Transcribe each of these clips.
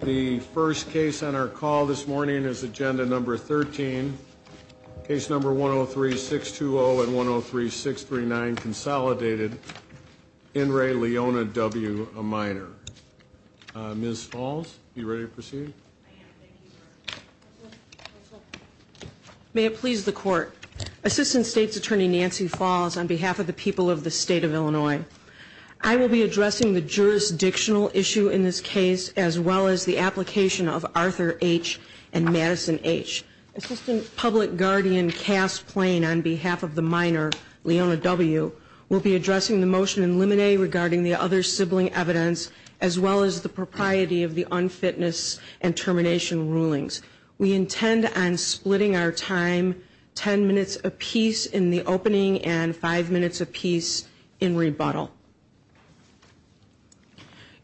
The first case on our call this morning is agenda number 13. Case number 103-620 and 103-639, consolidated. In re Leona W. A minor. Ms. Falls, you ready to proceed? I am, thank you, sir. May it please the court. Assistant State's Attorney Nancy Falls on behalf of the people of the state of Illinois. I will be addressing the jurisdictional issue in this case, as well as the application of Arthur H and Madison H. Assistant Public Guardian Cass Plain on behalf of the minor, Leona W, will be addressing the motion in limine regarding the other sibling evidence, as well as the propriety of the unfitness and termination rulings. We intend on splitting our time ten minutes apiece in the opening and five minutes apiece in rebuttal.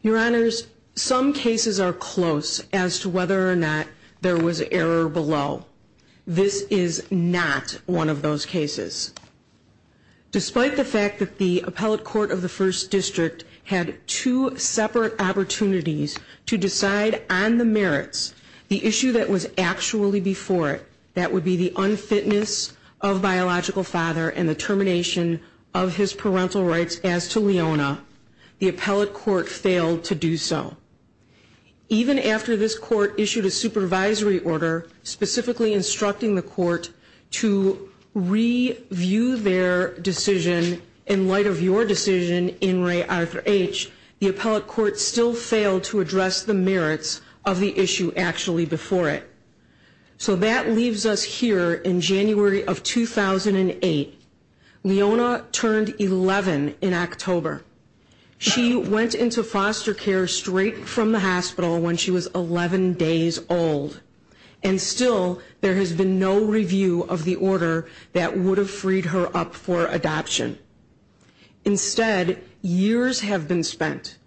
Your honors, some cases are close as to whether or not there was error below. This is not one of those cases. Despite the fact that the appellate court of the first district had two separate opportunities to decide on the merits, the issue that was actually before it, that would be the unfitness of biological father and the termination of his parental rights as to Leona, the appellate court failed to do so. Even after this court issued a supervisory order specifically instructing the court to review their decision in light of your decision in Ray Arthur H, the appellate court still failed to address the merits of the issue actually before it. So that leaves us here in January of 2008, Leona turned 11 in October. She went into foster care straight from the hospital when she was 11 days old. And still, there has been no review of the order that would have freed her up for adoption. Instead, years have been spent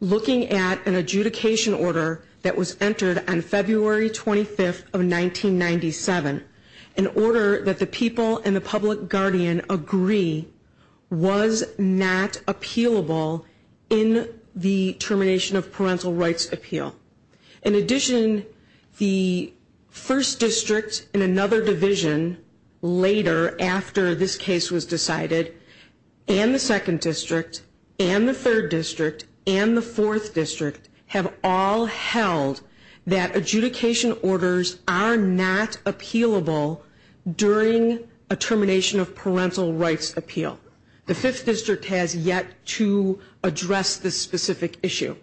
looking at an adjudication order that was entered on February 25th of 1997, in order that the people and the public guardian agree was not appealable in the termination of parental rights appeal. In addition, the first district and another division later, after this case was decided, and the second district, and the third district, and the fourth district, have all held that adjudication orders are not appealable during a termination of parental rights appeal. The fifth district has yet to address this specific issue.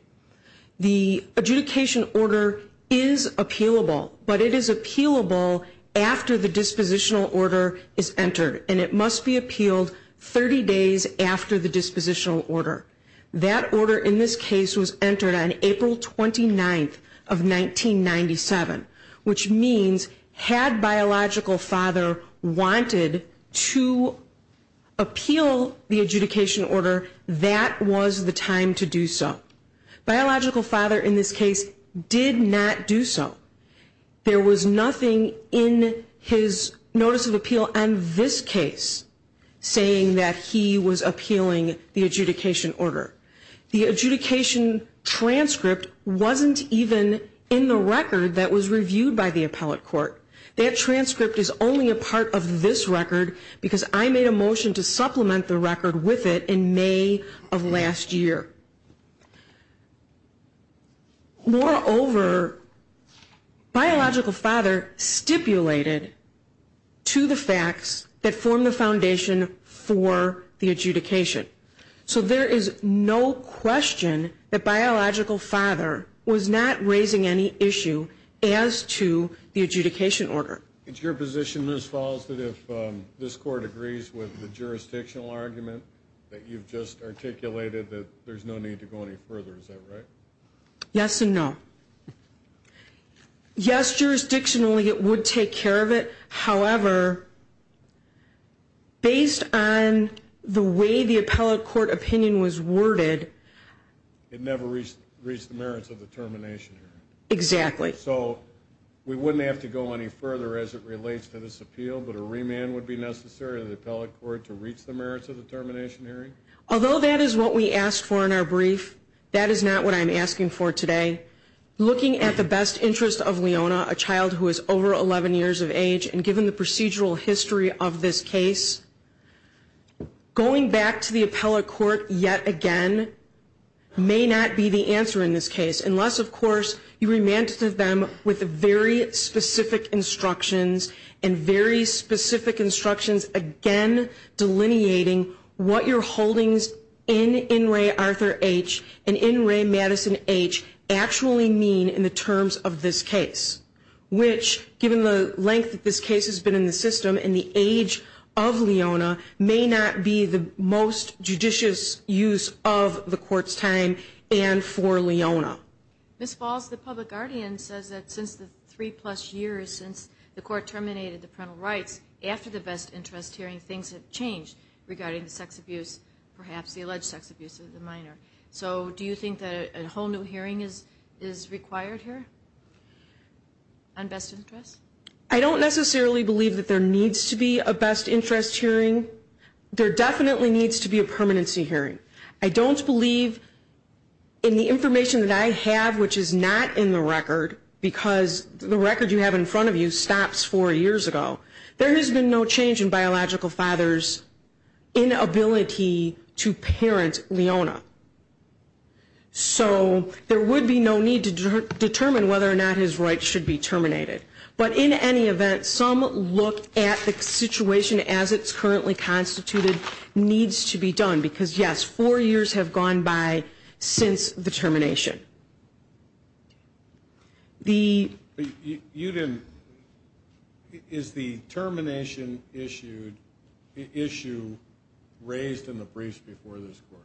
The adjudication order is appealable, but it is appealable after the dispositional order is entered. And it must be appealed 30 days after the dispositional order. That order, in this case, was entered on April 29th of 1997. Which means, had Biological Father wanted to appeal the adjudication order, that was the time to do so. Biological Father, in this case, did not do so. There was nothing in his notice of appeal on this case saying that he was appealing the adjudication order. The adjudication transcript wasn't even in the record that was reviewed by the appellate court. That transcript is only a part of this record, because I made a motion to supplement the record with it in May of last year. Moreover, Biological Father stipulated to the facts that form the foundation for the adjudication. So there is no question that Biological Father was not raising any issue as to the adjudication order. It's your position, Ms. Falls, that if this court agrees with the jurisdictional argument that you've just articulated, that there's no need to go any further. Is that right? Yes and no. Yes, jurisdictionally it would take care of it. However, based on the way the appellate court opinion was worded- It never reached the merits of the termination hearing. Exactly. So we wouldn't have to go any further as it relates to this appeal, but a remand would be necessary to the appellate court to reach the merits of the termination hearing? Although that is what we asked for in our brief, that is not what I'm asking for today. Looking at the best interest of Leona, a child who is over 11 years of age, and given the procedural history of this case, going back to the appellate court yet again may not be the answer in this case, unless, of course, you remanded them with very specific instructions, and very specific instructions, again, delineating what your holdings in In Re Arthur H and In Re Madison H actually mean in the terms of this case. Which, given the length that this case has been in the system and the age of Leona, may not be the most judicious use of the court's time and for Leona. Ms. Falls, the public guardian says that since the three plus years since the court terminated the parental rights, after the best interest hearing, things have changed regarding the sex abuse, perhaps the alleged sex abuse of the minor. So do you think that a whole new hearing is required here on best interest? I don't necessarily believe that there needs to be a best interest hearing. There definitely needs to be a permanency hearing. I don't believe in the information that I have, which is not in the record, because the record you have in front of you stops four years ago. There has been no change in biological father's inability to parent Leona. So there would be no need to determine whether or not his rights should be terminated. But in any event, some look at the situation as it's currently constituted, needs to be done, because yes, four years have gone by since the termination. Is the termination issue raised in the briefs before this court?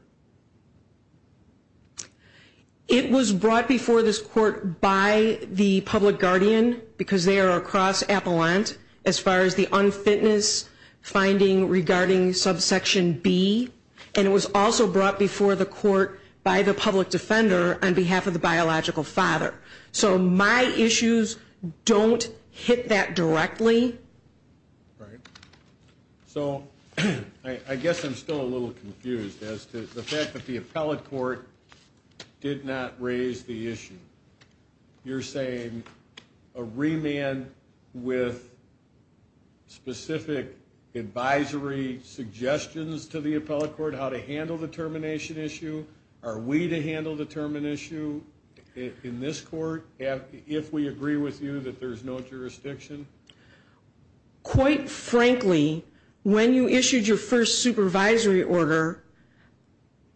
It was brought before this court by the public guardian, because they are across Appalant, as far as the unfitness finding regarding subsection B. And it was also brought before the court by the public defender on behalf of the biological father. So my issues don't hit that directly. So I guess I'm still a little confused as to the fact that the appellate court did not raise the issue. You're saying a remand with specific advisory suggestions to the appellate court how to handle the termination issue? Are we to handle the termination issue in this court if we agree with you that there's no jurisdiction? Quite frankly, when you issued your first supervisory order,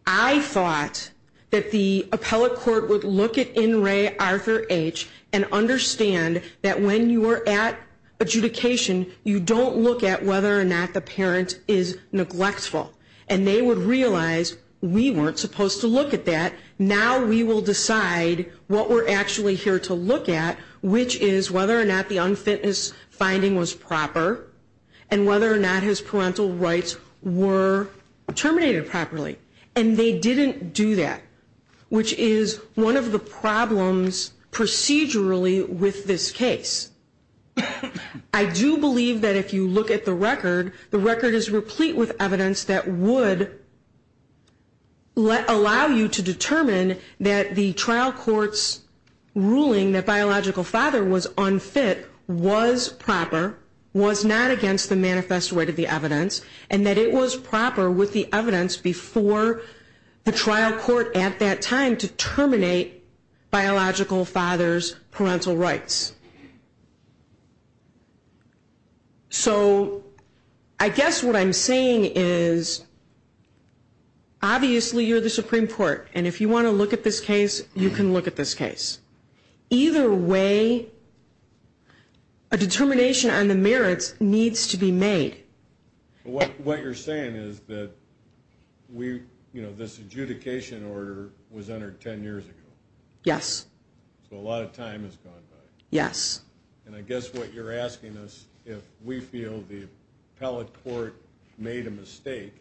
I thought that the appellate court would look at In Re Arthur H. and understand that when you are at adjudication, you don't look at whether or not the parent is neglectful. And they would realize we weren't supposed to look at that. Now we will decide what we're actually here to look at, which is whether or not the unfitness finding was proper. And whether or not his parental rights were terminated properly. And they didn't do that. Which is one of the problems procedurally with this case. I do believe that if you look at the record, the record is replete with evidence that would allow you to determine that the trial court's ruling that biological father was unfit was proper, was not against the manifest rate of the evidence, and that it was proper with the evidence before the trial court at that time to terminate biological father's parental rights. So I guess what I'm saying is, obviously you're the Supreme Court. And if you want to look at this case, you can look at this case. Either way, a determination on the merits needs to be made. What you're saying is that this adjudication order was entered ten years ago. Yes. So a lot of time has gone by. Yes. And I guess what you're asking us, if we feel the appellate court made a mistake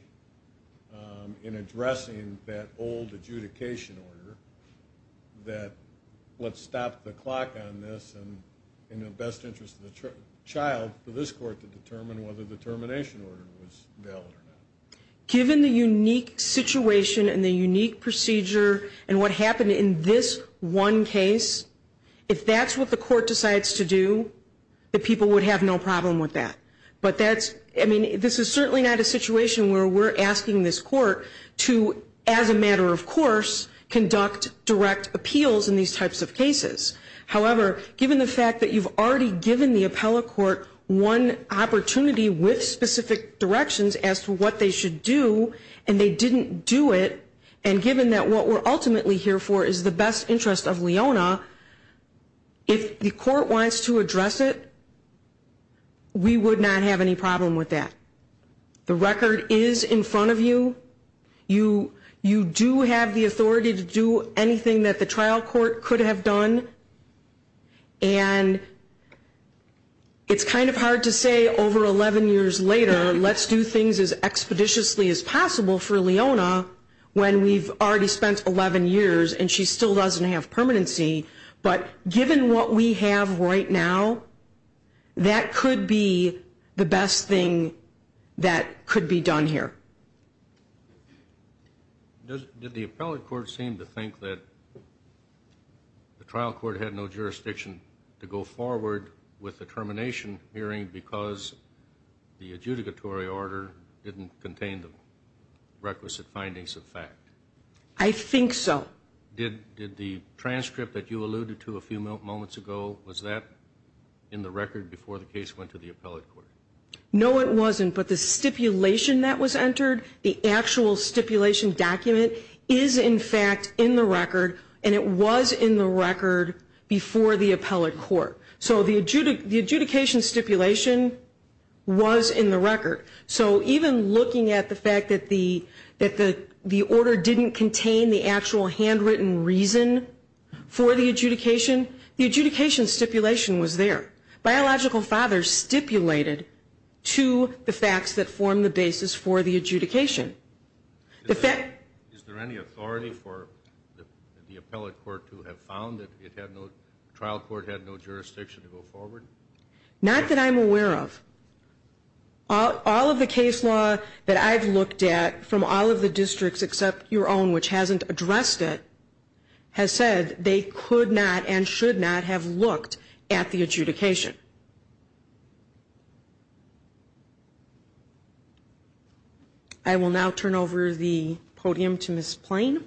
in addressing that old adjudication order, that let's stop the clock on this. And in the best interest of the child, for the determination order was valid or not. Given the unique situation and the unique procedure and what happened in this one case, if that's what the court decides to do, the people would have no problem with that. But that's, I mean, this is certainly not a situation where we're asking this court to, as a matter of course, conduct direct appeals in these types of cases. However, given the fact that you've already given the appellate court one opportunity with specific directions as to what they should do, and they didn't do it, and given that what we're ultimately here for is the best interest of Leona, if the court wants to address it, we would not have any problem with that. The record is in front of you. You do have the authority to do anything that the trial court could have done. And it's kind of hard to say over 11 years later, let's do things as expeditiously as possible for Leona, when we've already spent 11 years and she still doesn't have permanency. But given what we have right now, that could be the best thing that could be done here. Did the appellate court seem to think that the trial court had no jurisdiction to go forward with the termination hearing because the adjudicatory order didn't contain the requisite findings of fact? I think so. Did the transcript that you alluded to a few moments ago, was that in the record before the case went to the appellate court? No, it wasn't, but the stipulation that was entered, the actual stipulation document is in fact in the record, and it was in the record before the appellate court. So the adjudication stipulation was in the record. So even looking at the fact that the order didn't contain the actual handwritten reason for the adjudication, the adjudication stipulation was there. Biological fathers stipulated to the facts that form the basis for the adjudication. Is there any authority for the appellate court to have found that the trial court had no jurisdiction to go forward? Not that I'm aware of. All of the case law that I've looked at from all of the districts except your own, which hasn't addressed it, has said they could not and would not have a say in the adjudication. I will now turn over the podium to Ms. Plain.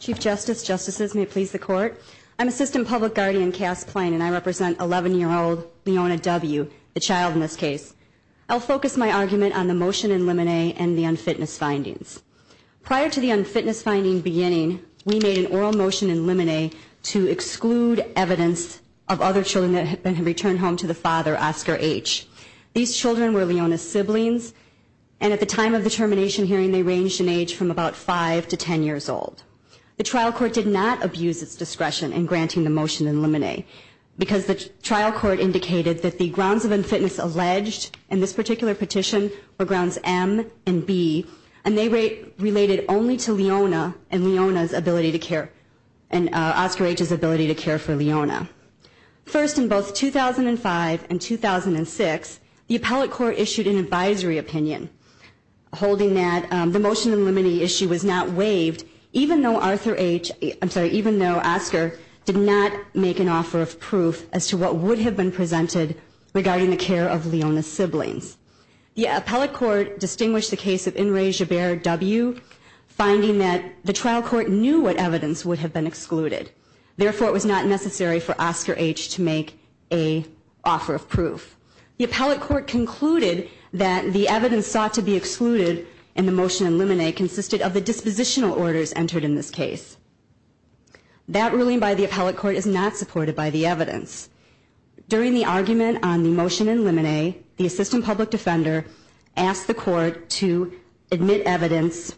Chief Justice, Justices, may it please the court. I'm Assistant Public Guardian Cass Plain, and I represent 11-year-old Leona W, the child in this case. I'll focus my argument on the motion in limine and the unfitness findings. Prior to the unfitness finding beginning, we made an oral motion in limine to exclude evidence of other children that had been returned home to the father, Oscar H. These children were Leona's siblings, and at the time of the termination hearing, they ranged in age from about five to ten years old. The trial court did not abuse its discretion in granting the motion in limine, because the trial court indicated that the grounds of unfitness alleged in this particular petition were grounds M and B. And they related only to Leona and Oscar H's ability to care for Leona. First, in both 2005 and 2006, the appellate court issued an advisory opinion holding that the motion in limine issue was not waived even though Arthur H, I'm sorry, even though Oscar did not make an offer of proof as to what would have been presented regarding the care of Leona's siblings. The appellate court distinguished the case of Inres Jaber W, finding that the trial court knew what evidence would have been excluded. Therefore, it was not necessary for Oscar H to make a offer of proof. The appellate court concluded that the evidence sought to be excluded in the motion in limine consisted of the dispositional orders entered in this case. That ruling by the appellate court is not supported by the evidence. During the argument on the motion in limine, the assistant public defender asked the court to admit evidence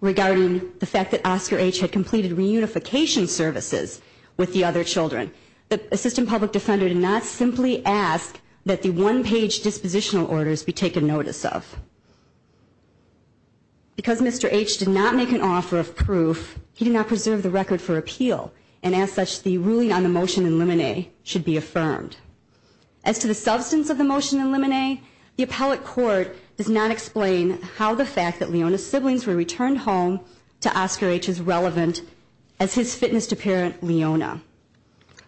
regarding the fact that Oscar H had completed reunification services with the other children. The assistant public defender did not simply ask that the one page dispositional orders be taken notice of. Because Mr. H did not make an offer of proof, he did not preserve the record for appeal, and as such, the ruling on the motion in limine should be affirmed. As to the substance of the motion in limine, the appellate court does not explain how the fact that Leona's siblings were returned home to Oscar H is relevant as his fitness to parent Leona.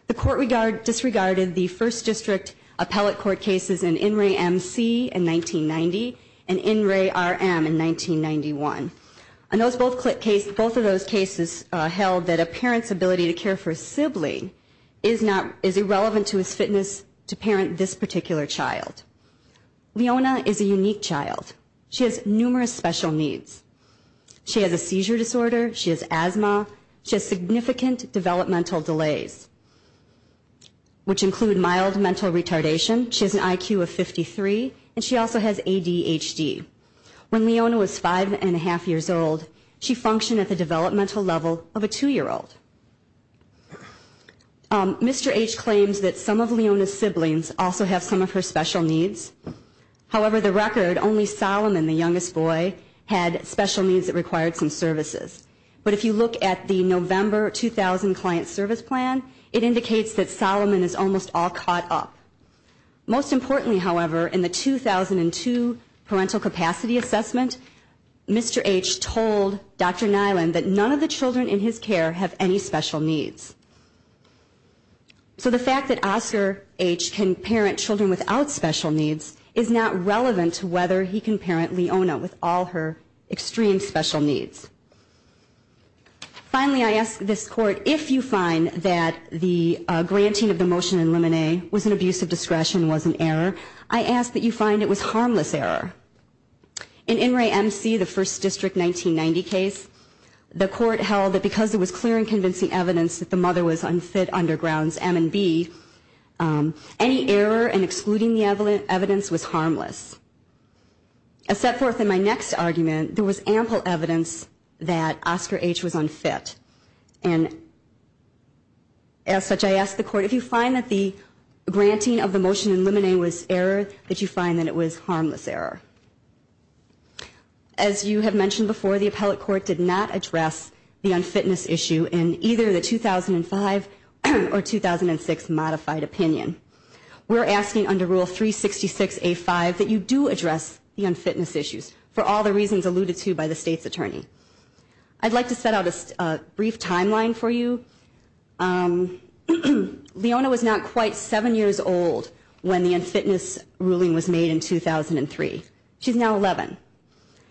The court disregarded the first district appellate court cases in INRAE-MC in 1990 and INRAE-RM in 1991. Both of those cases held that a parent's ability to care for a sibling is irrelevant to his fitness to parent this particular child. Leona is a unique child. She has numerous special needs. She has a seizure disorder. She has asthma. She has significant developmental delays, which include mild mental retardation. She has an IQ of 53, and she also has ADHD. When Leona was five and a half years old, she functioned at the developmental level of a two-year-old. Mr. H claims that some of Leona's siblings also have some of her special needs. However, the record only Solomon, the youngest boy, had special needs that required some services. But if you look at the November 2000 client service plan, it indicates that Solomon is almost all caught up. Most importantly, however, in the 2002 parental capacity assessment, Mr. H told Dr. Nyland that none of the children in his care have any special needs. So the fact that Oscar H can parent children without special needs is not relevant to whether he can parent Leona with all her extreme special needs. Finally, I ask this court, if you find that the granting of the motion in Lemonade was an abuse of discretion, was an error, I ask that you find it was harmless error. In In Re MC, the first district 1990 case, the court held that because it was clear and convincing evidence that the mother was unfit under grounds M and B, any error in excluding the evidence was harmless. A set forth in my next argument, there was ample evidence that Oscar H was unfit. And as such, I ask the court, if you find that the granting of the motion in Lemonade was error, did you find that it was harmless error? As you have mentioned before, the appellate court did not address the unfitness issue in either the 2005 or 2006 modified opinion. We're asking under rule 366A5 that you do address the unfitness issues, for all the reasons alluded to by the state's attorney. I'd like to set out a brief timeline for you. Leona was not quite seven years old when the unfitness ruling was made in 2003. She's now 11.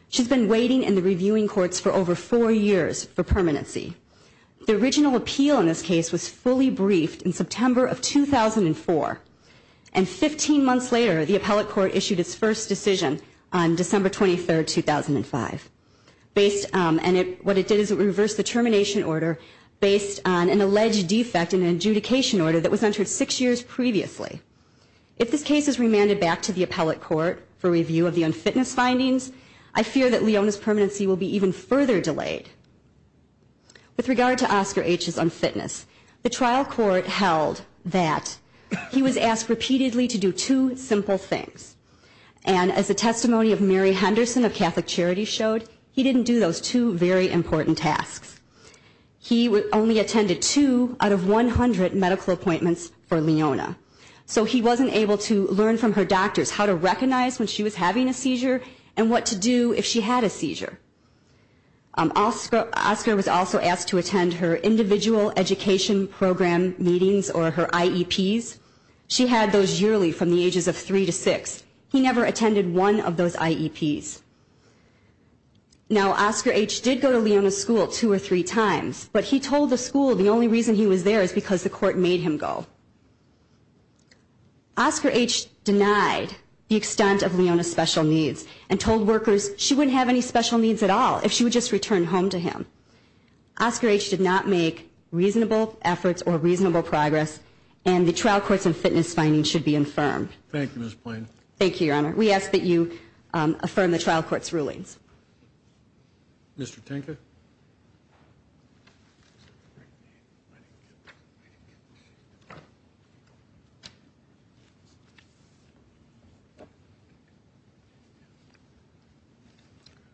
She's been waiting in the reviewing courts for over four years for permanency. The original appeal in this case was fully briefed in September of 2004. And 15 months later, the appellate court issued its first decision on December 23rd, 2005. Based on, and it, what it did is it reversed the termination order based on an alleged defect in an adjudication order that was entered six years previously. If this case is remanded back to the appellate court for review of the unfitness findings, I fear that Leona's permanency will be even further delayed. With regard to Oscar H's unfitness, the trial court held that he was asked repeatedly to do two simple things. And as the testimony of Mary Henderson of Catholic Charities showed, he didn't do those two very important tasks. He only attended two out of 100 medical appointments for Leona. So he wasn't able to learn from her doctors how to recognize when she was having a seizure, and what to do if she had a seizure. Oscar was also asked to attend her individual education program meetings, or her IEPs. She had those yearly from the ages of three to six. He never attended one of those IEPs. Now, Oscar H did go to Leona's school two or three times, but he told the school the only reason he was there is because the court made him go. Oscar H denied the extent of Leona's special needs, and told workers she wouldn't have any special needs at all if she would just return home to him. Oscar H did not make reasonable efforts or reasonable progress, and the trial court's unfitness findings should be infirmed. Thank you, Ms. Plain. Thank you, Your Honor. We ask that you affirm the trial court's rulings. Mr. Tinker.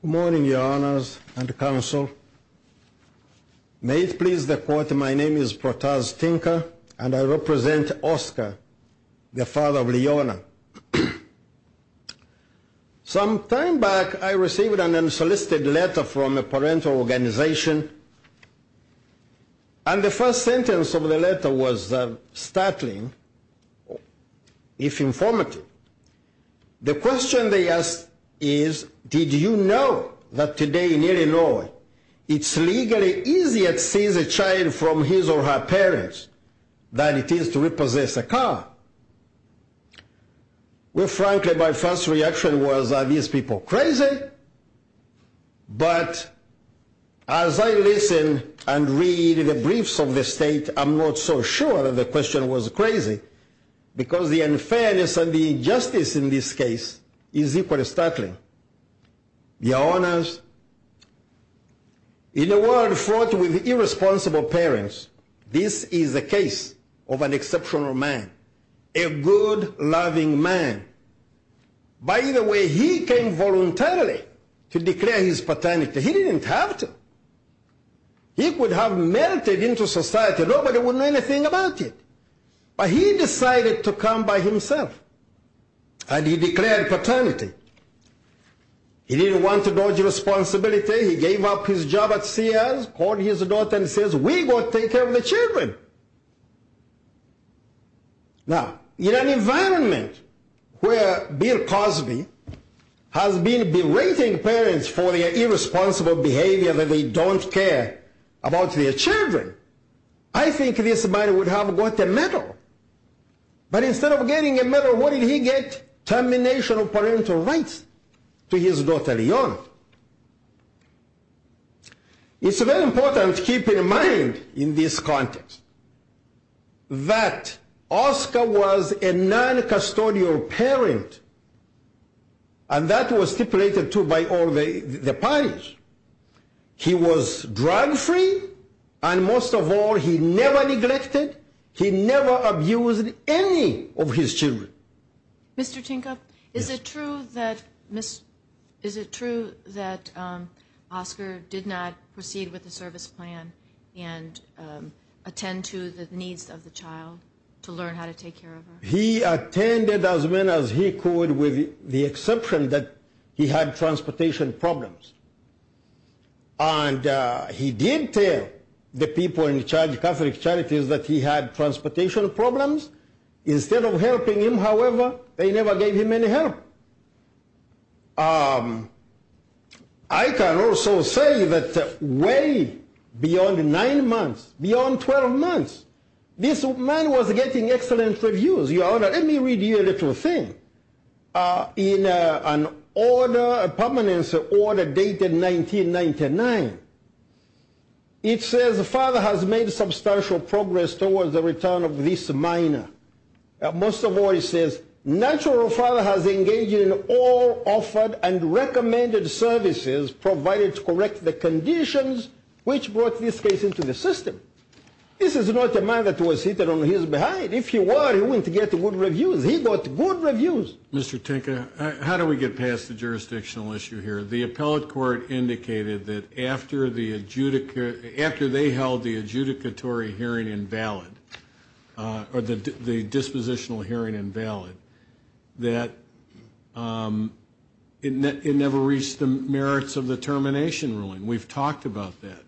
Good morning, Your Honors and Counsel. May it please the court, my name is Protaz Tinker, and I represent Oscar, the father of Leona. Some time back, I received an unsolicited letter from a parental organization, and the first sentence of the letter was, startling if informative. The question they asked is, did you know that today in Illinois, it's legally easier to seize a child from his or her parents than it is to repossess a car? Well, frankly, my first reaction was, are these people crazy? But as I listen and read the briefs of the state, I'm not so sure that the question was crazy, because the unfairness and the injustice in this case is equally startling. Your Honors, in a world fraught with irresponsible parents, this is the case of an exceptional man, a good, loving man. By the way, he came voluntarily to declare his paternity. He didn't have to. He would have melted into society. Nobody would know anything about it. But he decided to come by himself, and he declared paternity. He didn't want to dodge responsibility. He gave up his job at Sears, called his daughter and says, we will take care of the children. Now, in an environment where Bill Cosby has been berating parents for their irresponsible behavior that they don't care about their children, I think this man would have got a medal. But instead of getting a medal, what did he get? Termination of parental rights to his daughter, Leon. It's very important to keep in mind in this context that Oscar was a non-custodial parent, and that was stipulated, too, by all the parties. He was drug-free, and most of all, he never neglected, he never abused any of his children. Mr. Tinkoff, is it true that Oscar did not proceed with the service plan and attend to the needs of the child to learn how to take care of her? He attended as many as he could with the exception that he had transportation problems. And he did tell the people in charge of Catholic Charities that he had transportation problems. Instead of helping him, however, they never gave him any help. I can also say that way beyond nine months, beyond 12 months, this man was getting excellent reviews. Your Honor, let me read you a little thing. In an order, a permanence order dated 1999, it says, Father has made substantial progress towards the return of this minor. Most of all, it says, natural father has engaged in all offered and recommended services provided to correct the conditions which brought this case into the system. This is not a man that was hidden on his behind. If he were, he wouldn't get good reviews. He got good reviews. Mr. Tinker, how do we get past the jurisdictional issue here? The appellate court indicated that after they held the adjudicatory hearing invalid, or the dispositional hearing invalid, that it never reached the merits of the termination ruling. We've talked about that.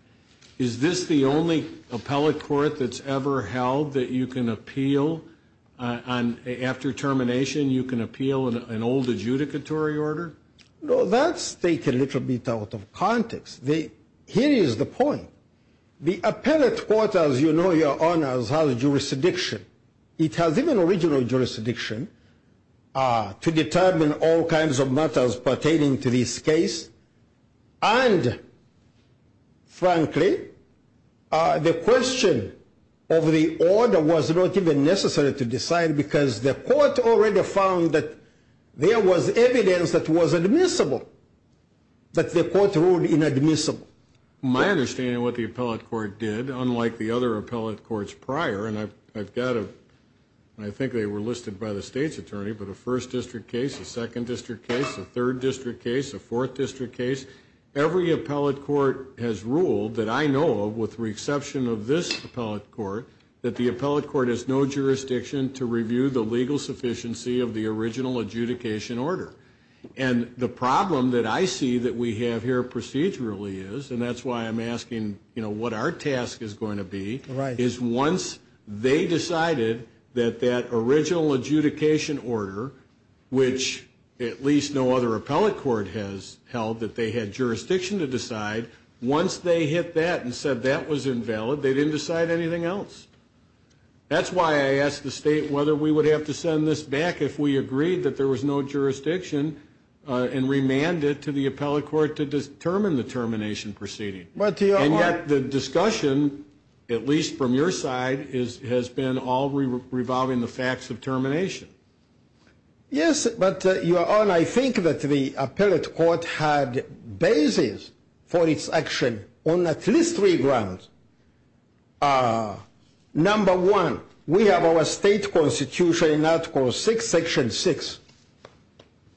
Is this the only appellate court that's ever held that you can appeal? After termination, you can appeal an old adjudicatory order? No, that's taken a little bit out of context. Here is the point. The appellate court, as you know, Your Honor, has jurisdiction. It has even original jurisdiction to determine all kinds of matters pertaining to this case. And, frankly, the question of the order was not even necessary to decide because the court already found that there was evidence that was admissible, but the court ruled inadmissible. My understanding of what the appellate court did, unlike the other appellate courts prior, and I've got a, I think they were listed by the state's attorney, but a first district case, a second district case, a third district case, a fourth district case, every appellate court has ruled that I know of, with the exception of this appellate court, that the appellate court has no jurisdiction to review the legal sufficiency of the original adjudication order. And the problem that I see that we have here procedurally is, and that's why I'm asking what our task is going to be, is once they decided that that original adjudication order, which at least no other appellate court has held that they had jurisdiction to decide, once they hit that and said that was invalid, they didn't decide anything else. That's why I asked the state whether we would have to send this back if we agreed that there was no jurisdiction and remanded it to the appellate court to determine the termination proceeding. And yet the discussion, at least from your side, has been all revolving the facts of termination. Yes, but Your Honor, I think that the appellate court had basis for its action on at least three grounds. Number one, we have our state constitution in Article 6, Section 6.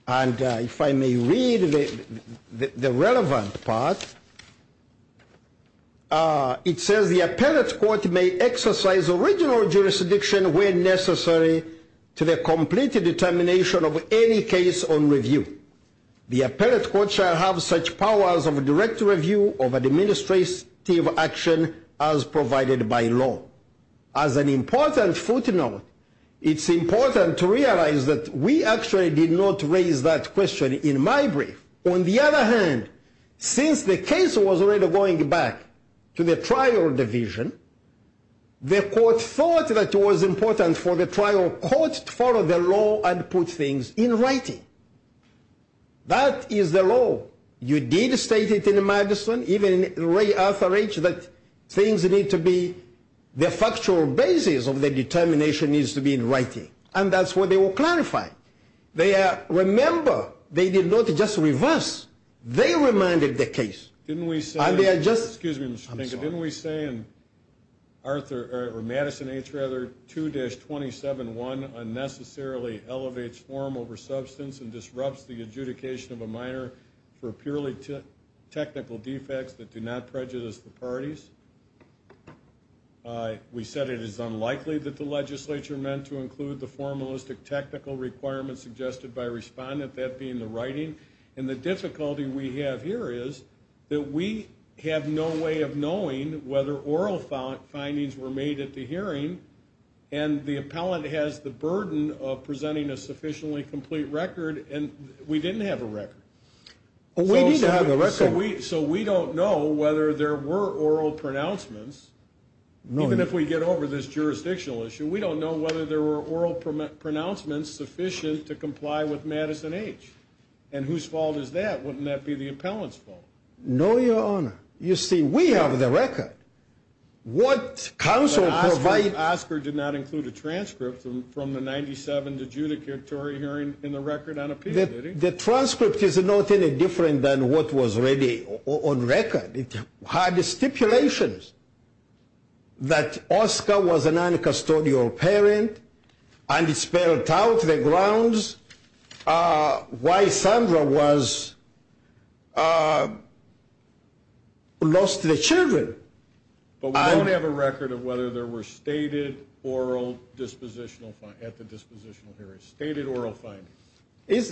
And if I may read the relevant part, it says the appellate court may exercise original jurisdiction where necessary to the complete determination of any case on review. The appellate court shall have such powers of direct review of administrative action as provided by law. As an important footnote, it's important to realize that we actually did not raise that question in my brief. On the other hand, since the case was already going back to the trial division, the court thought that it was important for the trial court to follow the law and put things in writing. That is the law. You did state it in Madison, even in Ray Arthur H., that the factual basis of the determination needs to be in writing. And that's what they will clarify. Remember, they did not just reverse. They remanded the case. Didn't we say in Madison H. 2-27-1 unnecessarily elevates form over substance and disrupts the adjudication of a minor for purely technical defects that do not prejudice the parties? We said it is unlikely that the legislature meant to include the formalistic technical requirements suggested by respondent, that being the writing. And the difficulty we have here is that we have no way of knowing whether oral findings were made at the hearing. And the appellant has the burden of presenting a sufficiently complete record. And we didn't have a record. We need to have a record. So we don't know whether there were oral pronouncements. Even if we get over this jurisdictional issue, we don't know whether there were oral pronouncements sufficient to comply with Madison H. And whose fault is that? Wouldn't that be the appellant's fault? No, Your Honor. You see, we have the record. But Oscar did not include a transcript from the 97th adjudicatory hearing in the record on appeal, did he? The transcript is nothing different than what was already on record. It had stipulations that Oscar was an uncustodial parent. And it spelled out the grounds why Sandra lost the children. But we don't have a record of whether there were stated oral dispositional findings at the dispositional hearing. Stated oral findings.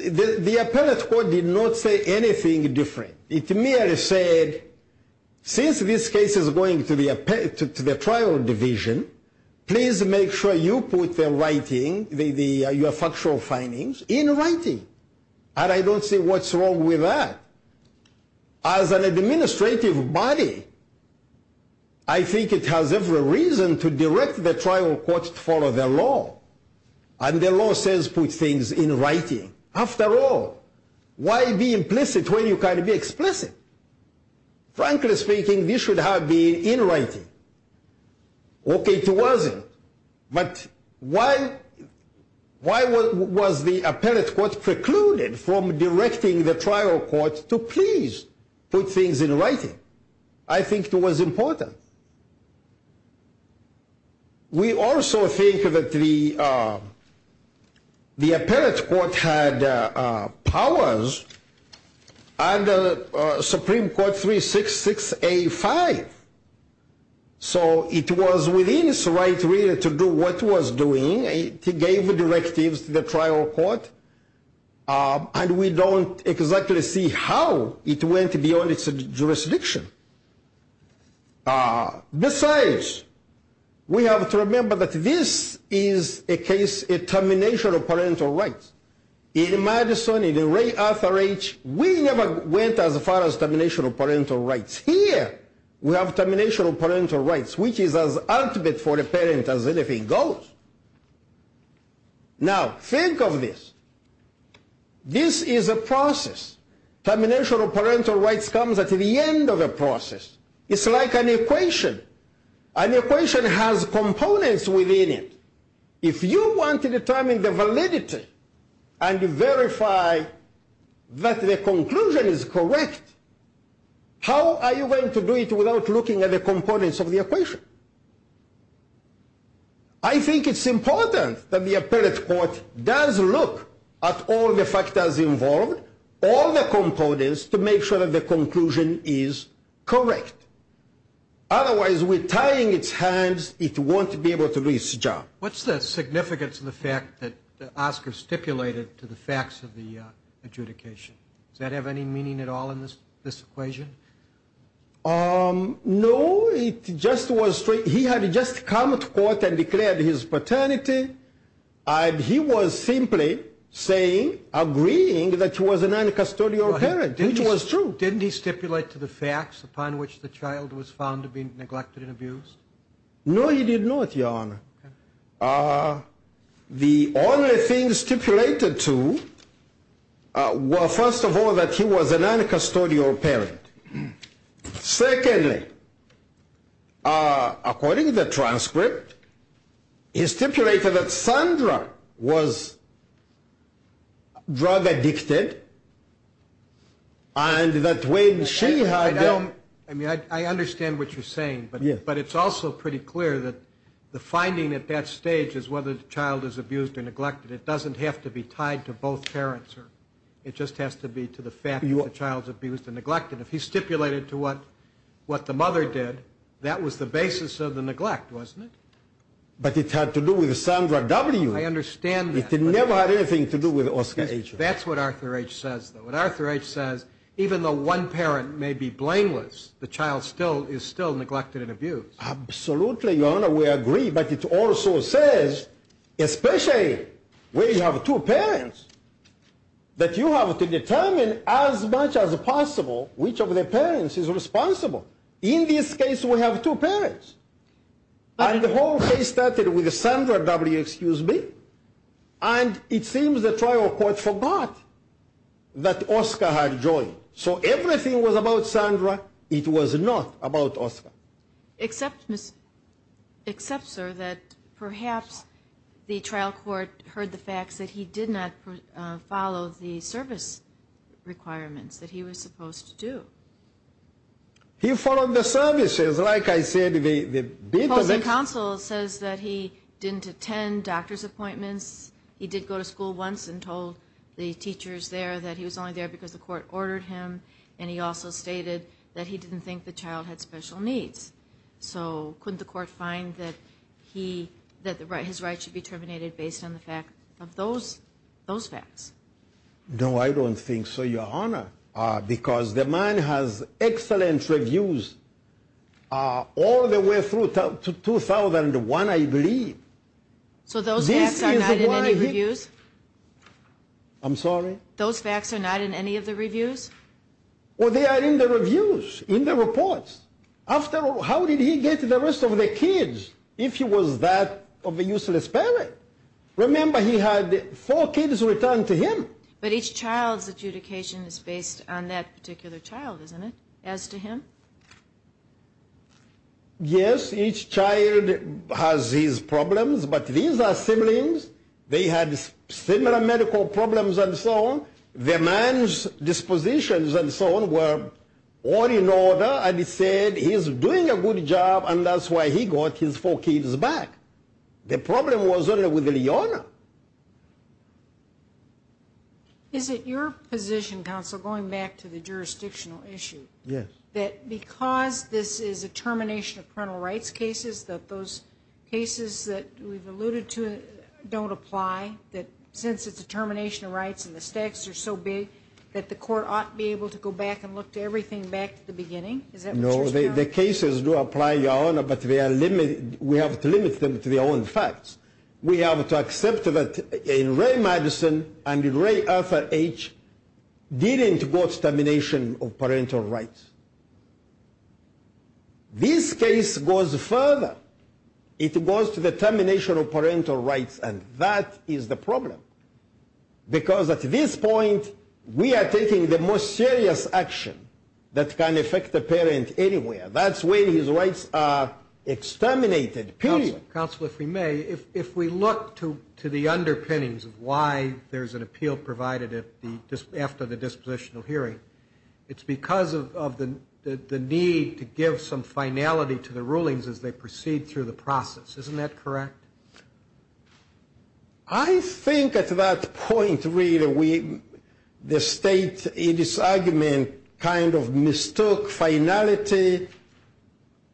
The appellate court did not say anything different. It merely said, since this case is going to the trial division, please make sure you put your factual findings in writing. And I don't see what's wrong with that. As an administrative body, I think it has every reason to direct the trial court to follow the law. And the law says put things in writing. After all, why be implicit when you can be explicit? Frankly speaking, this should have been in writing. Okay, it wasn't. But why was the appellate court precluded from directing the trial court to please put things in writing? I think it was important. We also think that the appellate court had powers under Supreme Court 366A5. So it was within its right really to do what it was doing. It gave directives to the trial court. And we don't exactly see how it went beyond its jurisdiction. Besides, we have to remember that this is a case, a termination of parental rights. In Madison, in Ray Arthur H., we never went as far as termination of parental rights. Here, we have termination of parental rights, which is as ultimate for a parent as anything goes. Now, think of this. This is a process. Termination of parental rights comes at the end of a process. It's like an equation. An equation has components within it. If you want to determine the validity and verify that the conclusion is correct, how are you going to do it without looking at the components of the equation? I think it's important that the appellate court does look at all the factors involved, all the components, to make sure that the conclusion is correct. Otherwise, with tying its hands, it won't be able to do its job. What's the significance of the fact that Oscar stipulated to the facts of the adjudication? Does that have any meaning at all in this equation? No, it just was straight. He had just come to court and declared his paternity, and he was simply saying, agreeing that he was a non-custodial parent, which was true. So didn't he stipulate to the facts upon which the child was found to be neglected and abused? No, he did not, Your Honor. The only thing stipulated to was, first of all, that he was a non-custodial parent. Secondly, according to the transcript, he stipulated that Sandra was drug-addicted, and that when she had... I understand what you're saying, but it's also pretty clear that the finding at that stage is whether the child is abused or neglected. It doesn't have to be tied to both parents. It just has to be to the fact that the child is abused and neglected. If he stipulated to what the mother did, that was the basis of the neglect, wasn't it? But it had to do with Sandra W. I understand that. It never had anything to do with Oscar H. That's what Arthur H. says, though. What Arthur H. says, even though one parent may be blameless, the child is still neglected and abused. Absolutely, Your Honor, we agree. But it also says, especially when you have two parents, that you have to determine as much as possible which of the parents is responsible. In this case, we have two parents. And the whole case started with Sandra W. And it seems the trial court forgot that Oscar had joined. So everything was about Sandra. It was not about Oscar. Except, sir, that perhaps the trial court heard the facts that he did not follow the service requirements that he was supposed to do. He followed the services, like I said. The counseling counsel says that he didn't attend doctor's appointments. He did go to school once and told the teachers there that he was only there because the court ordered him. And he also stated that he didn't think the child had special needs. So couldn't the court find that his rights should be terminated based on the fact of those facts? No, I don't think so, Your Honor, because the man has excellent reviews all the way through to 2001, I believe. So those facts are not in any reviews? I'm sorry? Those facts are not in any of the reviews? Well, they are in the reviews, in the reports. After all, how did he get the rest of the kids if he was that of a useless parent? Remember, he had four kids returned to him. But each child's adjudication is based on that particular child, isn't it, as to him? Yes, each child has his problems, but these are siblings. They had similar medical problems and so on. The man's dispositions and so on were all in order, and he said he was doing a good job, and that's why he got his four kids back. The problem was only with Leona. Is it your position, counsel, going back to the jurisdictional issue, that because this is a termination of parental rights cases, that those cases that we've alluded to don't apply, that since it's a termination of rights and the stakes are so big, that the court ought to be able to go back and look to everything back to the beginning? No, the cases do apply, Your Honor, but we have to limit them to their own facts. We have to accept that in Ray Madison and in Ray Arthur H. didn't go to termination of parental rights. This case goes further. It goes to the termination of parental rights, and that is the problem, because at this point we are taking the most serious action that can affect a parent anywhere. That's when his rights are exterminated, period. Counsel, if we may, if we look to the underpinnings of why there's an appeal provided after the dispositional hearing, it's because of the need to give some finality to the rulings as they proceed through the process. Isn't that correct? I think at that point, really, the state, in its argument, kind of mistook finality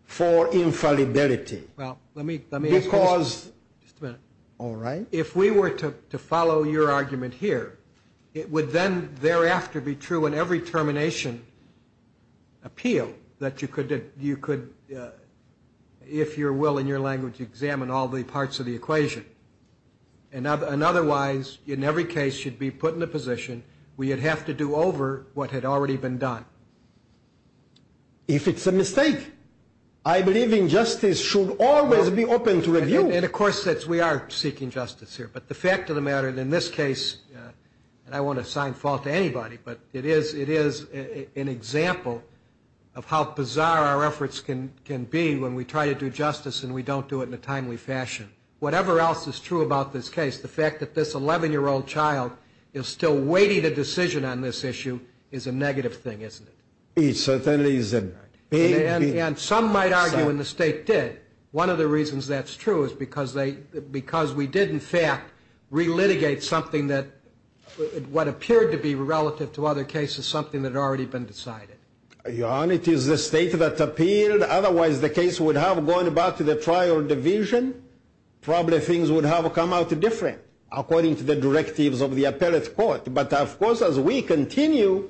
for infallibility. Well, let me ask you this. Just a minute. All right. If we were to follow your argument here, it would then thereafter be true in every termination appeal that you could, if you will in your language, examine all the parts of the equation. And otherwise, in every case, you'd be put in a position where you'd have to do over what had already been done. If it's a mistake. I believe injustice should always be open to review. And, of course, we are seeking justice here. But the fact of the matter in this case, and I won't assign fault to anybody, but it is an example of how bizarre our efforts can be when we try to do justice and we don't do it in a timely fashion. Whatever else is true about this case, the fact that this 11-year-old child is still waiting a decision on this issue is a negative thing, isn't it? It certainly is. And some might argue, and the State did, one of the reasons that's true is because we did, in fact, relitigate something that what appeared to be relative to other cases, something that had already been decided. Your Honor, it is the State that appealed. Otherwise, the case would have gone back to the trial division. Probably things would have come out different according to the directives of the appellate court. But, of course, as we continue,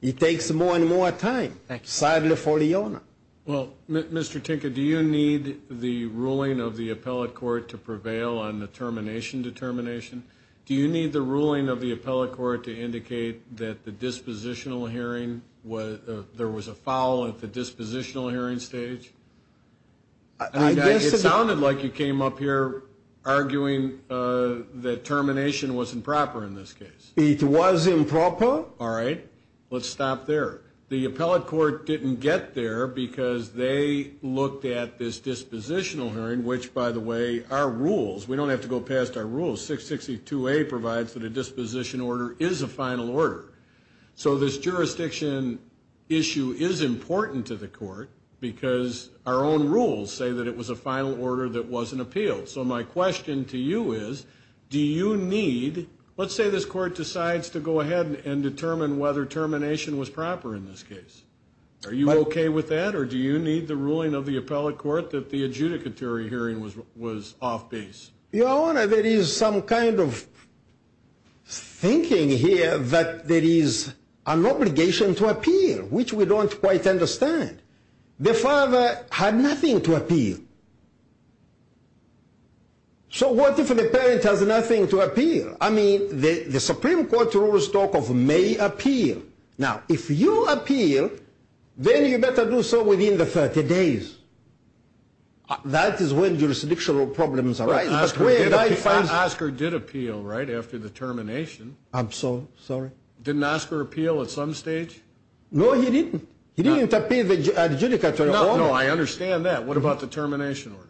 it takes more and more time, sadly for your Honor. Well, Mr. Tinker, do you need the ruling of the appellate court to prevail on the termination determination? Do you need the ruling of the appellate court to indicate that the dispositional hearing, there was a foul at the dispositional hearing stage? It sounded like you came up here arguing that termination wasn't proper in this case. It was improper. All right. Let's stop there. The appellate court didn't get there because they looked at this dispositional hearing, which, by the way, are rules. We don't have to go past our rules. 662A provides that a disposition order is a final order. So this jurisdiction issue is important to the court because our own rules say that it was a final order that wasn't appealed. So my question to you is, do you need, let's say this court decides to go ahead and determine whether termination was proper in this case, are you okay with that? Or do you need the ruling of the appellate court that the adjudicatory hearing was off base? Your Honor, there is some kind of thinking here that there is an obligation to appeal, which we don't quite understand. The father had nothing to appeal. So what if the parent has nothing to appeal? I mean, the Supreme Court rules talk of may appeal. Now, if you appeal, then you better do so within the 30 days. That is when jurisdictional problems arise. Oscar did appeal, right, after the termination. I'm so sorry. Didn't Oscar appeal at some stage? No, he didn't. He didn't appeal the adjudicatory order. No, I understand that. What about the termination order?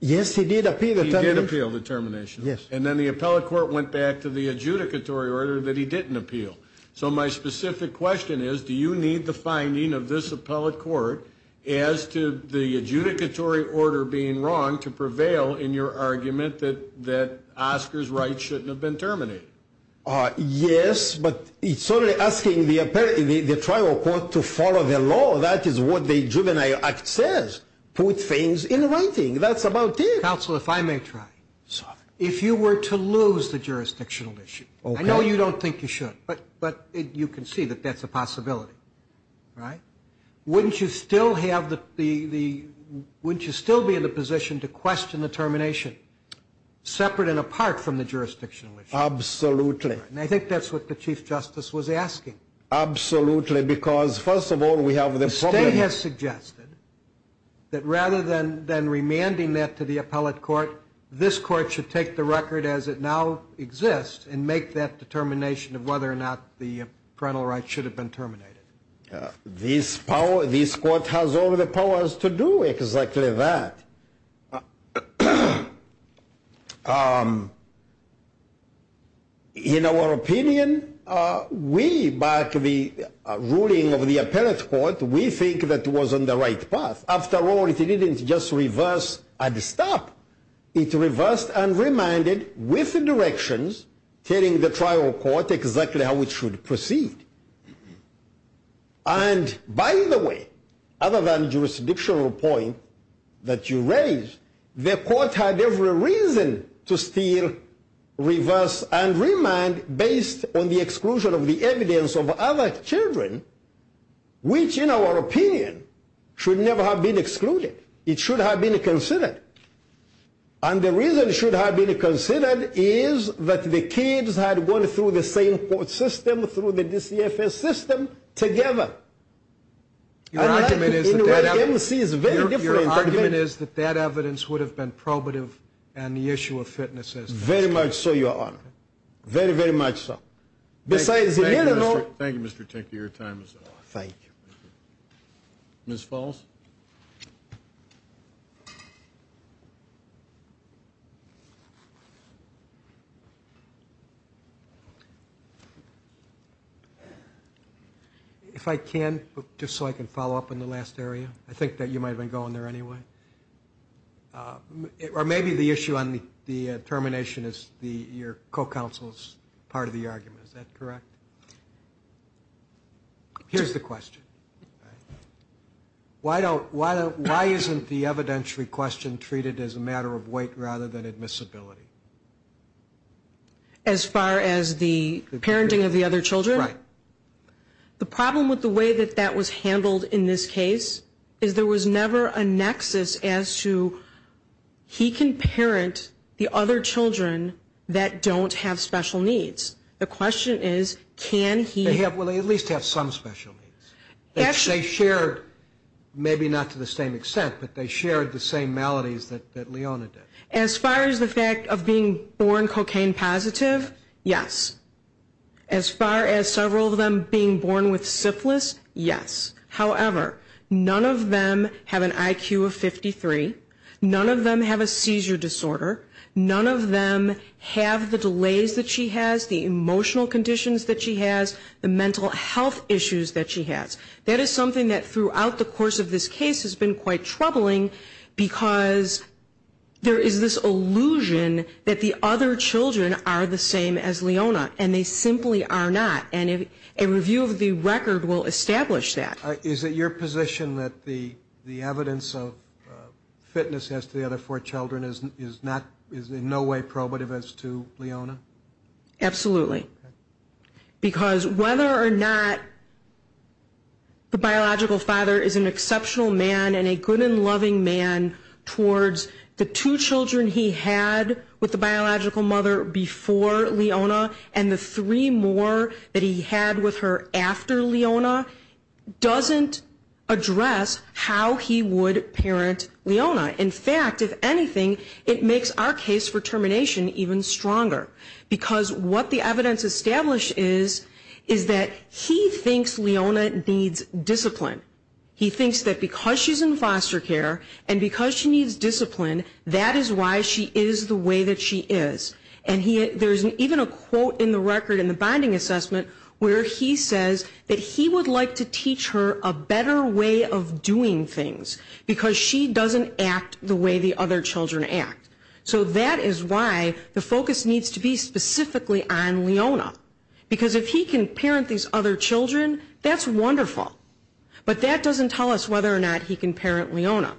Yes, he did appeal the termination. He did appeal the termination. Yes. And then the appellate court went back to the adjudicatory order that he didn't appeal. So my specific question is, do you need the finding of this appellate court as to the adjudicatory order being wrong to prevail in your argument that Oscar's rights shouldn't have been terminated? Yes, but it's only asking the trial court to follow the law. That is what the Juvenile Act says. Put things in writing. That's about it. Counsel, if I may try. If you were to lose the jurisdictional issue, I know you don't think you should. But you can see that that's a possibility, right? Wouldn't you still be in the position to question the termination, separate and apart from the jurisdictional issue? Absolutely. And I think that's what the Chief Justice was asking. Absolutely, because, first of all, we have the problem. He has suggested that rather than remanding that to the appellate court, this court should take the record as it now exists and make that determination of whether or not the parental rights should have been terminated. This court has all the powers to do exactly that. In our opinion, we, by the ruling of the appellate court, we think that it was on the right path. After all, it didn't just reverse and stop. It reversed and remanded with directions, telling the trial court exactly how it should proceed. And, by the way, other than the jurisdictional point that you raised, the court had every reason to still reverse and remand based on the exclusion of the evidence of other children, which, in our opinion, should never have been excluded. It should have been considered. And the reason it should have been considered is that the kids had gone through the same court system, through the DCFS system, together. Your argument is that that evidence would have been probative on the issue of fitnesses. Very much so, Your Honor. Very, very much so. Thank you, Mr. Tinker. Your time is up. Thank you. Ms. Falls? If I can, just so I can follow up on the last area, I think that you might have been going there anyway. Or maybe the issue on the termination is your co-counsel's part of the argument. Is that correct? Here's the question. Why isn't the evidentiary question true? Why isn't the evidentiary question true? Because it's treated as a matter of weight rather than admissibility. As far as the parenting of the other children? Right. The problem with the way that that was handled in this case is there was never a nexus as to he can parent the other children that don't have special needs. The question is, can he? Well, they at least have some special needs. They shared, maybe not to the same extent, but they shared the same maladies that Leona did. As far as the fact of being born cocaine positive, yes. As far as several of them being born with syphilis, yes. However, none of them have an IQ of 53. None of them have a seizure disorder. None of them have the delays that she has, the emotional conditions that she has, the mental health issues that she has. That is something that throughout the course of this case has been quite troubling because there is this illusion that the other children are the same as Leona, and they simply are not. And a review of the record will establish that. Is it your position that the evidence of fitness as to the other four children is in no way probative as to Leona? Absolutely. Because whether or not the biological father is an exceptional man and a good and loving man towards the two children he had with the biological mother before Leona and the three more that he had with her after Leona doesn't address how he would parent Leona. In fact, if anything, it makes our case for termination even stronger. Because what the evidence establishes is that he thinks Leona needs discipline. He thinks that because she's in foster care and because she needs discipline, that is why she is the way that she is. And there's even a quote in the record in the bonding assessment where he says that he would like to teach her a better way of doing things because she doesn't act the way the other children act. So that is why the focus needs to be specifically on Leona. Because if he can parent these other children, that's wonderful. But that doesn't tell us whether or not he can parent Leona.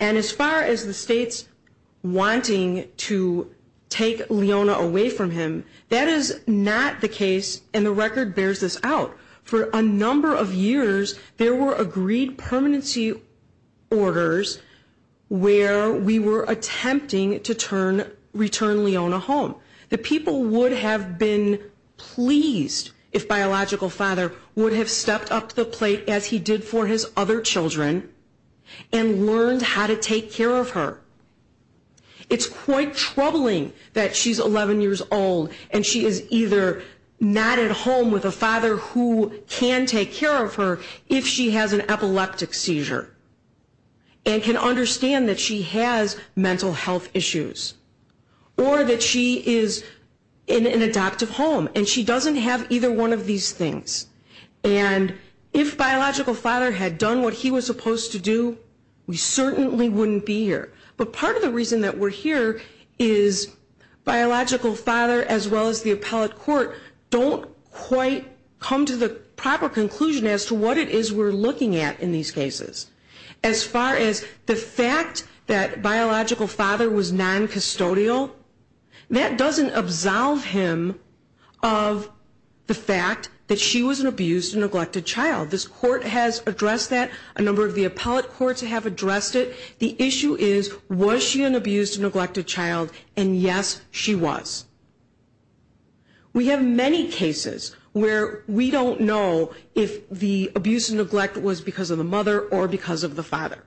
And as far as the states wanting to take Leona away from him, that is not the case and the record bears this out. For a number of years, there were agreed permanency orders where we were attempting to return Leona home. The people would have been pleased if Biological Father would have stepped up to the plate as he did for his other children and learned how to take care of her. It's quite troubling that she's 11 years old and she is either not at home with a father who can take care of her if she has an epileptic seizure and can understand that she has mental health issues or that she is in an adoptive home and she doesn't have either one of these things. And if Biological Father had done what he was supposed to do, we certainly wouldn't be here. But part of the reason that we're here is Biological Father as well as the appellate court don't quite come to the proper conclusion as to what it is we're looking at in these cases. As far as the fact that Biological Father was non-custodial, that doesn't absolve him of the fact that she was an abused and neglected child. This court has addressed that, a number of the appellate courts have addressed it. The issue is, was she an abused and neglected child, and yes, she was. We have many cases where we don't know if the abuse and neglect was because of the mother or because of the father.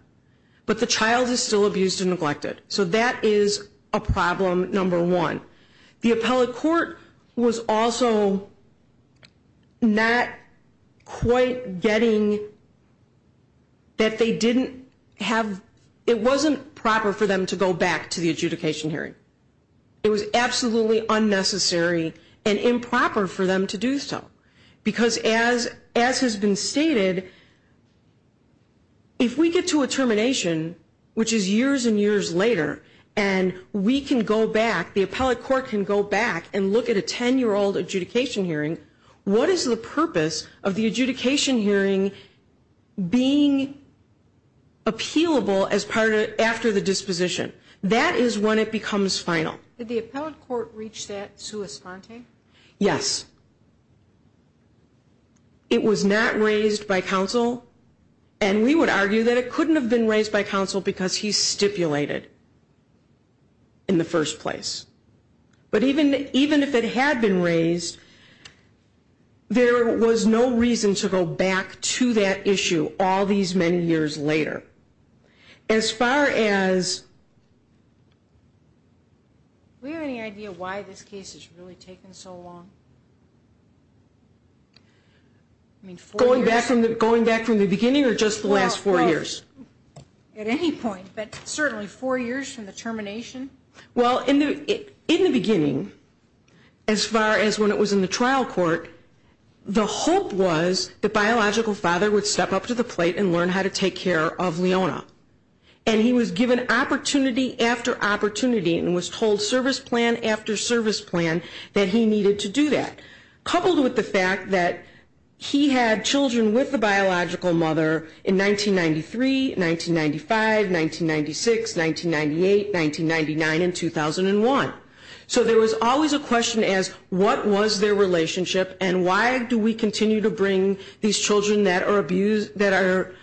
But the child is still abused and neglected. So that is a problem, number one. The appellate court was also not quite getting that they didn't have, it wasn't proper for them to go back to the adjudication hearing. It was absolutely unnecessary and improper for them to do so. Because as has been stated, if we get to a termination, which is years and years later, and we can go back, the appellate court can go back and look at a 10-year-old adjudication hearing, what is the purpose of the adjudication hearing being appealable after the disposition? That is when it becomes final. Did the appellate court reach that sua sponte? Yes. It was not raised by counsel. And we would argue that it couldn't have been raised by counsel because he stipulated in the first place. But even if it had been raised, there was no reason to go back to that issue all these many years later. As far as... Do we have any idea why this case has really taken so long? Going back from the beginning or just the last four years? At any point, but certainly four years from the termination. Well, in the beginning, as far as when it was in the trial court, the hope was the biological father would step up to the plate and learn how to take care of Leona. And he was given opportunity after opportunity and was told service plan after service plan that he needed to do that. Coupled with the fact that he had children with the biological mother in 1993, 1995, 1996, 1998, 1999, and 2001. So there was always a question as what was their relationship and why do we continue to bring these children that are abused, that are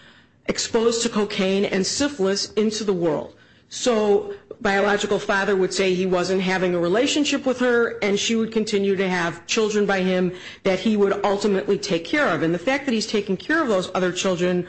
exposed to cocaine and syphilis into the world. So biological father would say he wasn't having a relationship with her and she would continue to have children by him that he would ultimately take care of. And the fact that he's taking care of those other children,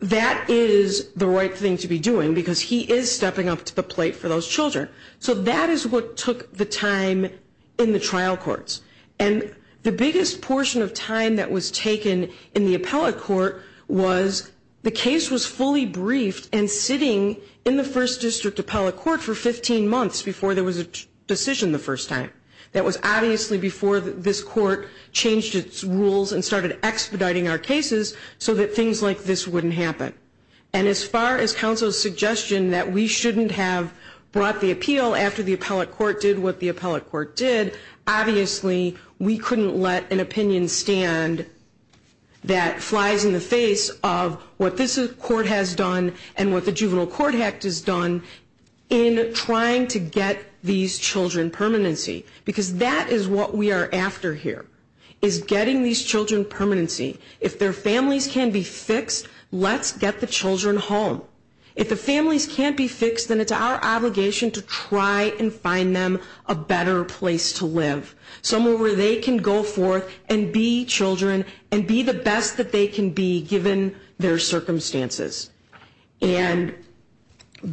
that is the right thing to be doing because he is stepping up to the plate for those children. So that is what took the time in the trial courts. And the biggest portion of time that was taken in the appellate court was the case was fully briefed and sitting in the first district appellate court for 15 months before there was a decision the first time. That was obviously before this court changed its rules and started expediting our cases so that things like this wouldn't happen. And as far as counsel's suggestion that we shouldn't have brought the appeal after the appellate court did what the appellate court did, obviously we couldn't let an opinion stand that flies in the face of what this court has done and what the juvenile court has done in trying to get these children permanency. Because that is what we are after here, is getting these children permanency. If their families can be fixed, let's get the children home. If the families can't be fixed, then it's our obligation to try and find them a better place to live, somewhere where they can go forth and be children and be the best that they can be given their circumstances. And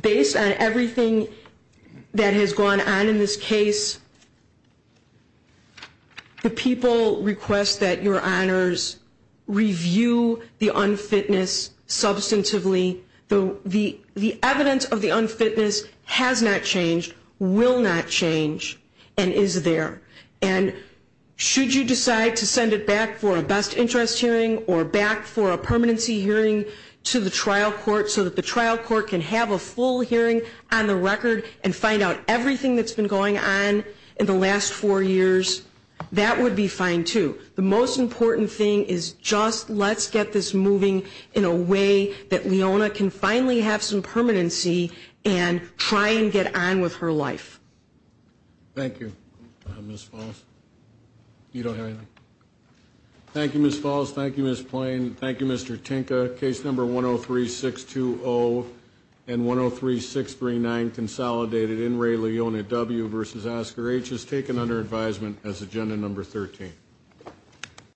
based on everything that has gone on in this case, the people request that your honors review the unfitness substantively. The evidence of the unfitness has not changed, will not change, and is there. And should you decide to send it back for a best interest hearing or back for a permanency hearing to the trial court so that the trial court can have a full hearing on the record and find out everything that's been going on in the last four years, that would be fine too. The most important thing is just let's get this moving in a way that Leona can finally have some permanency and try and get on with her life. Thank you, Ms. Falls. You don't have anything? Thank you, Ms. Falls. Thank you, Ms. Plain. Thank you, Mr. Tinka. Case number 103620 and 103639, consolidated in Ray Leona W. v. Oscar H., is taken under advisement as agenda number 13.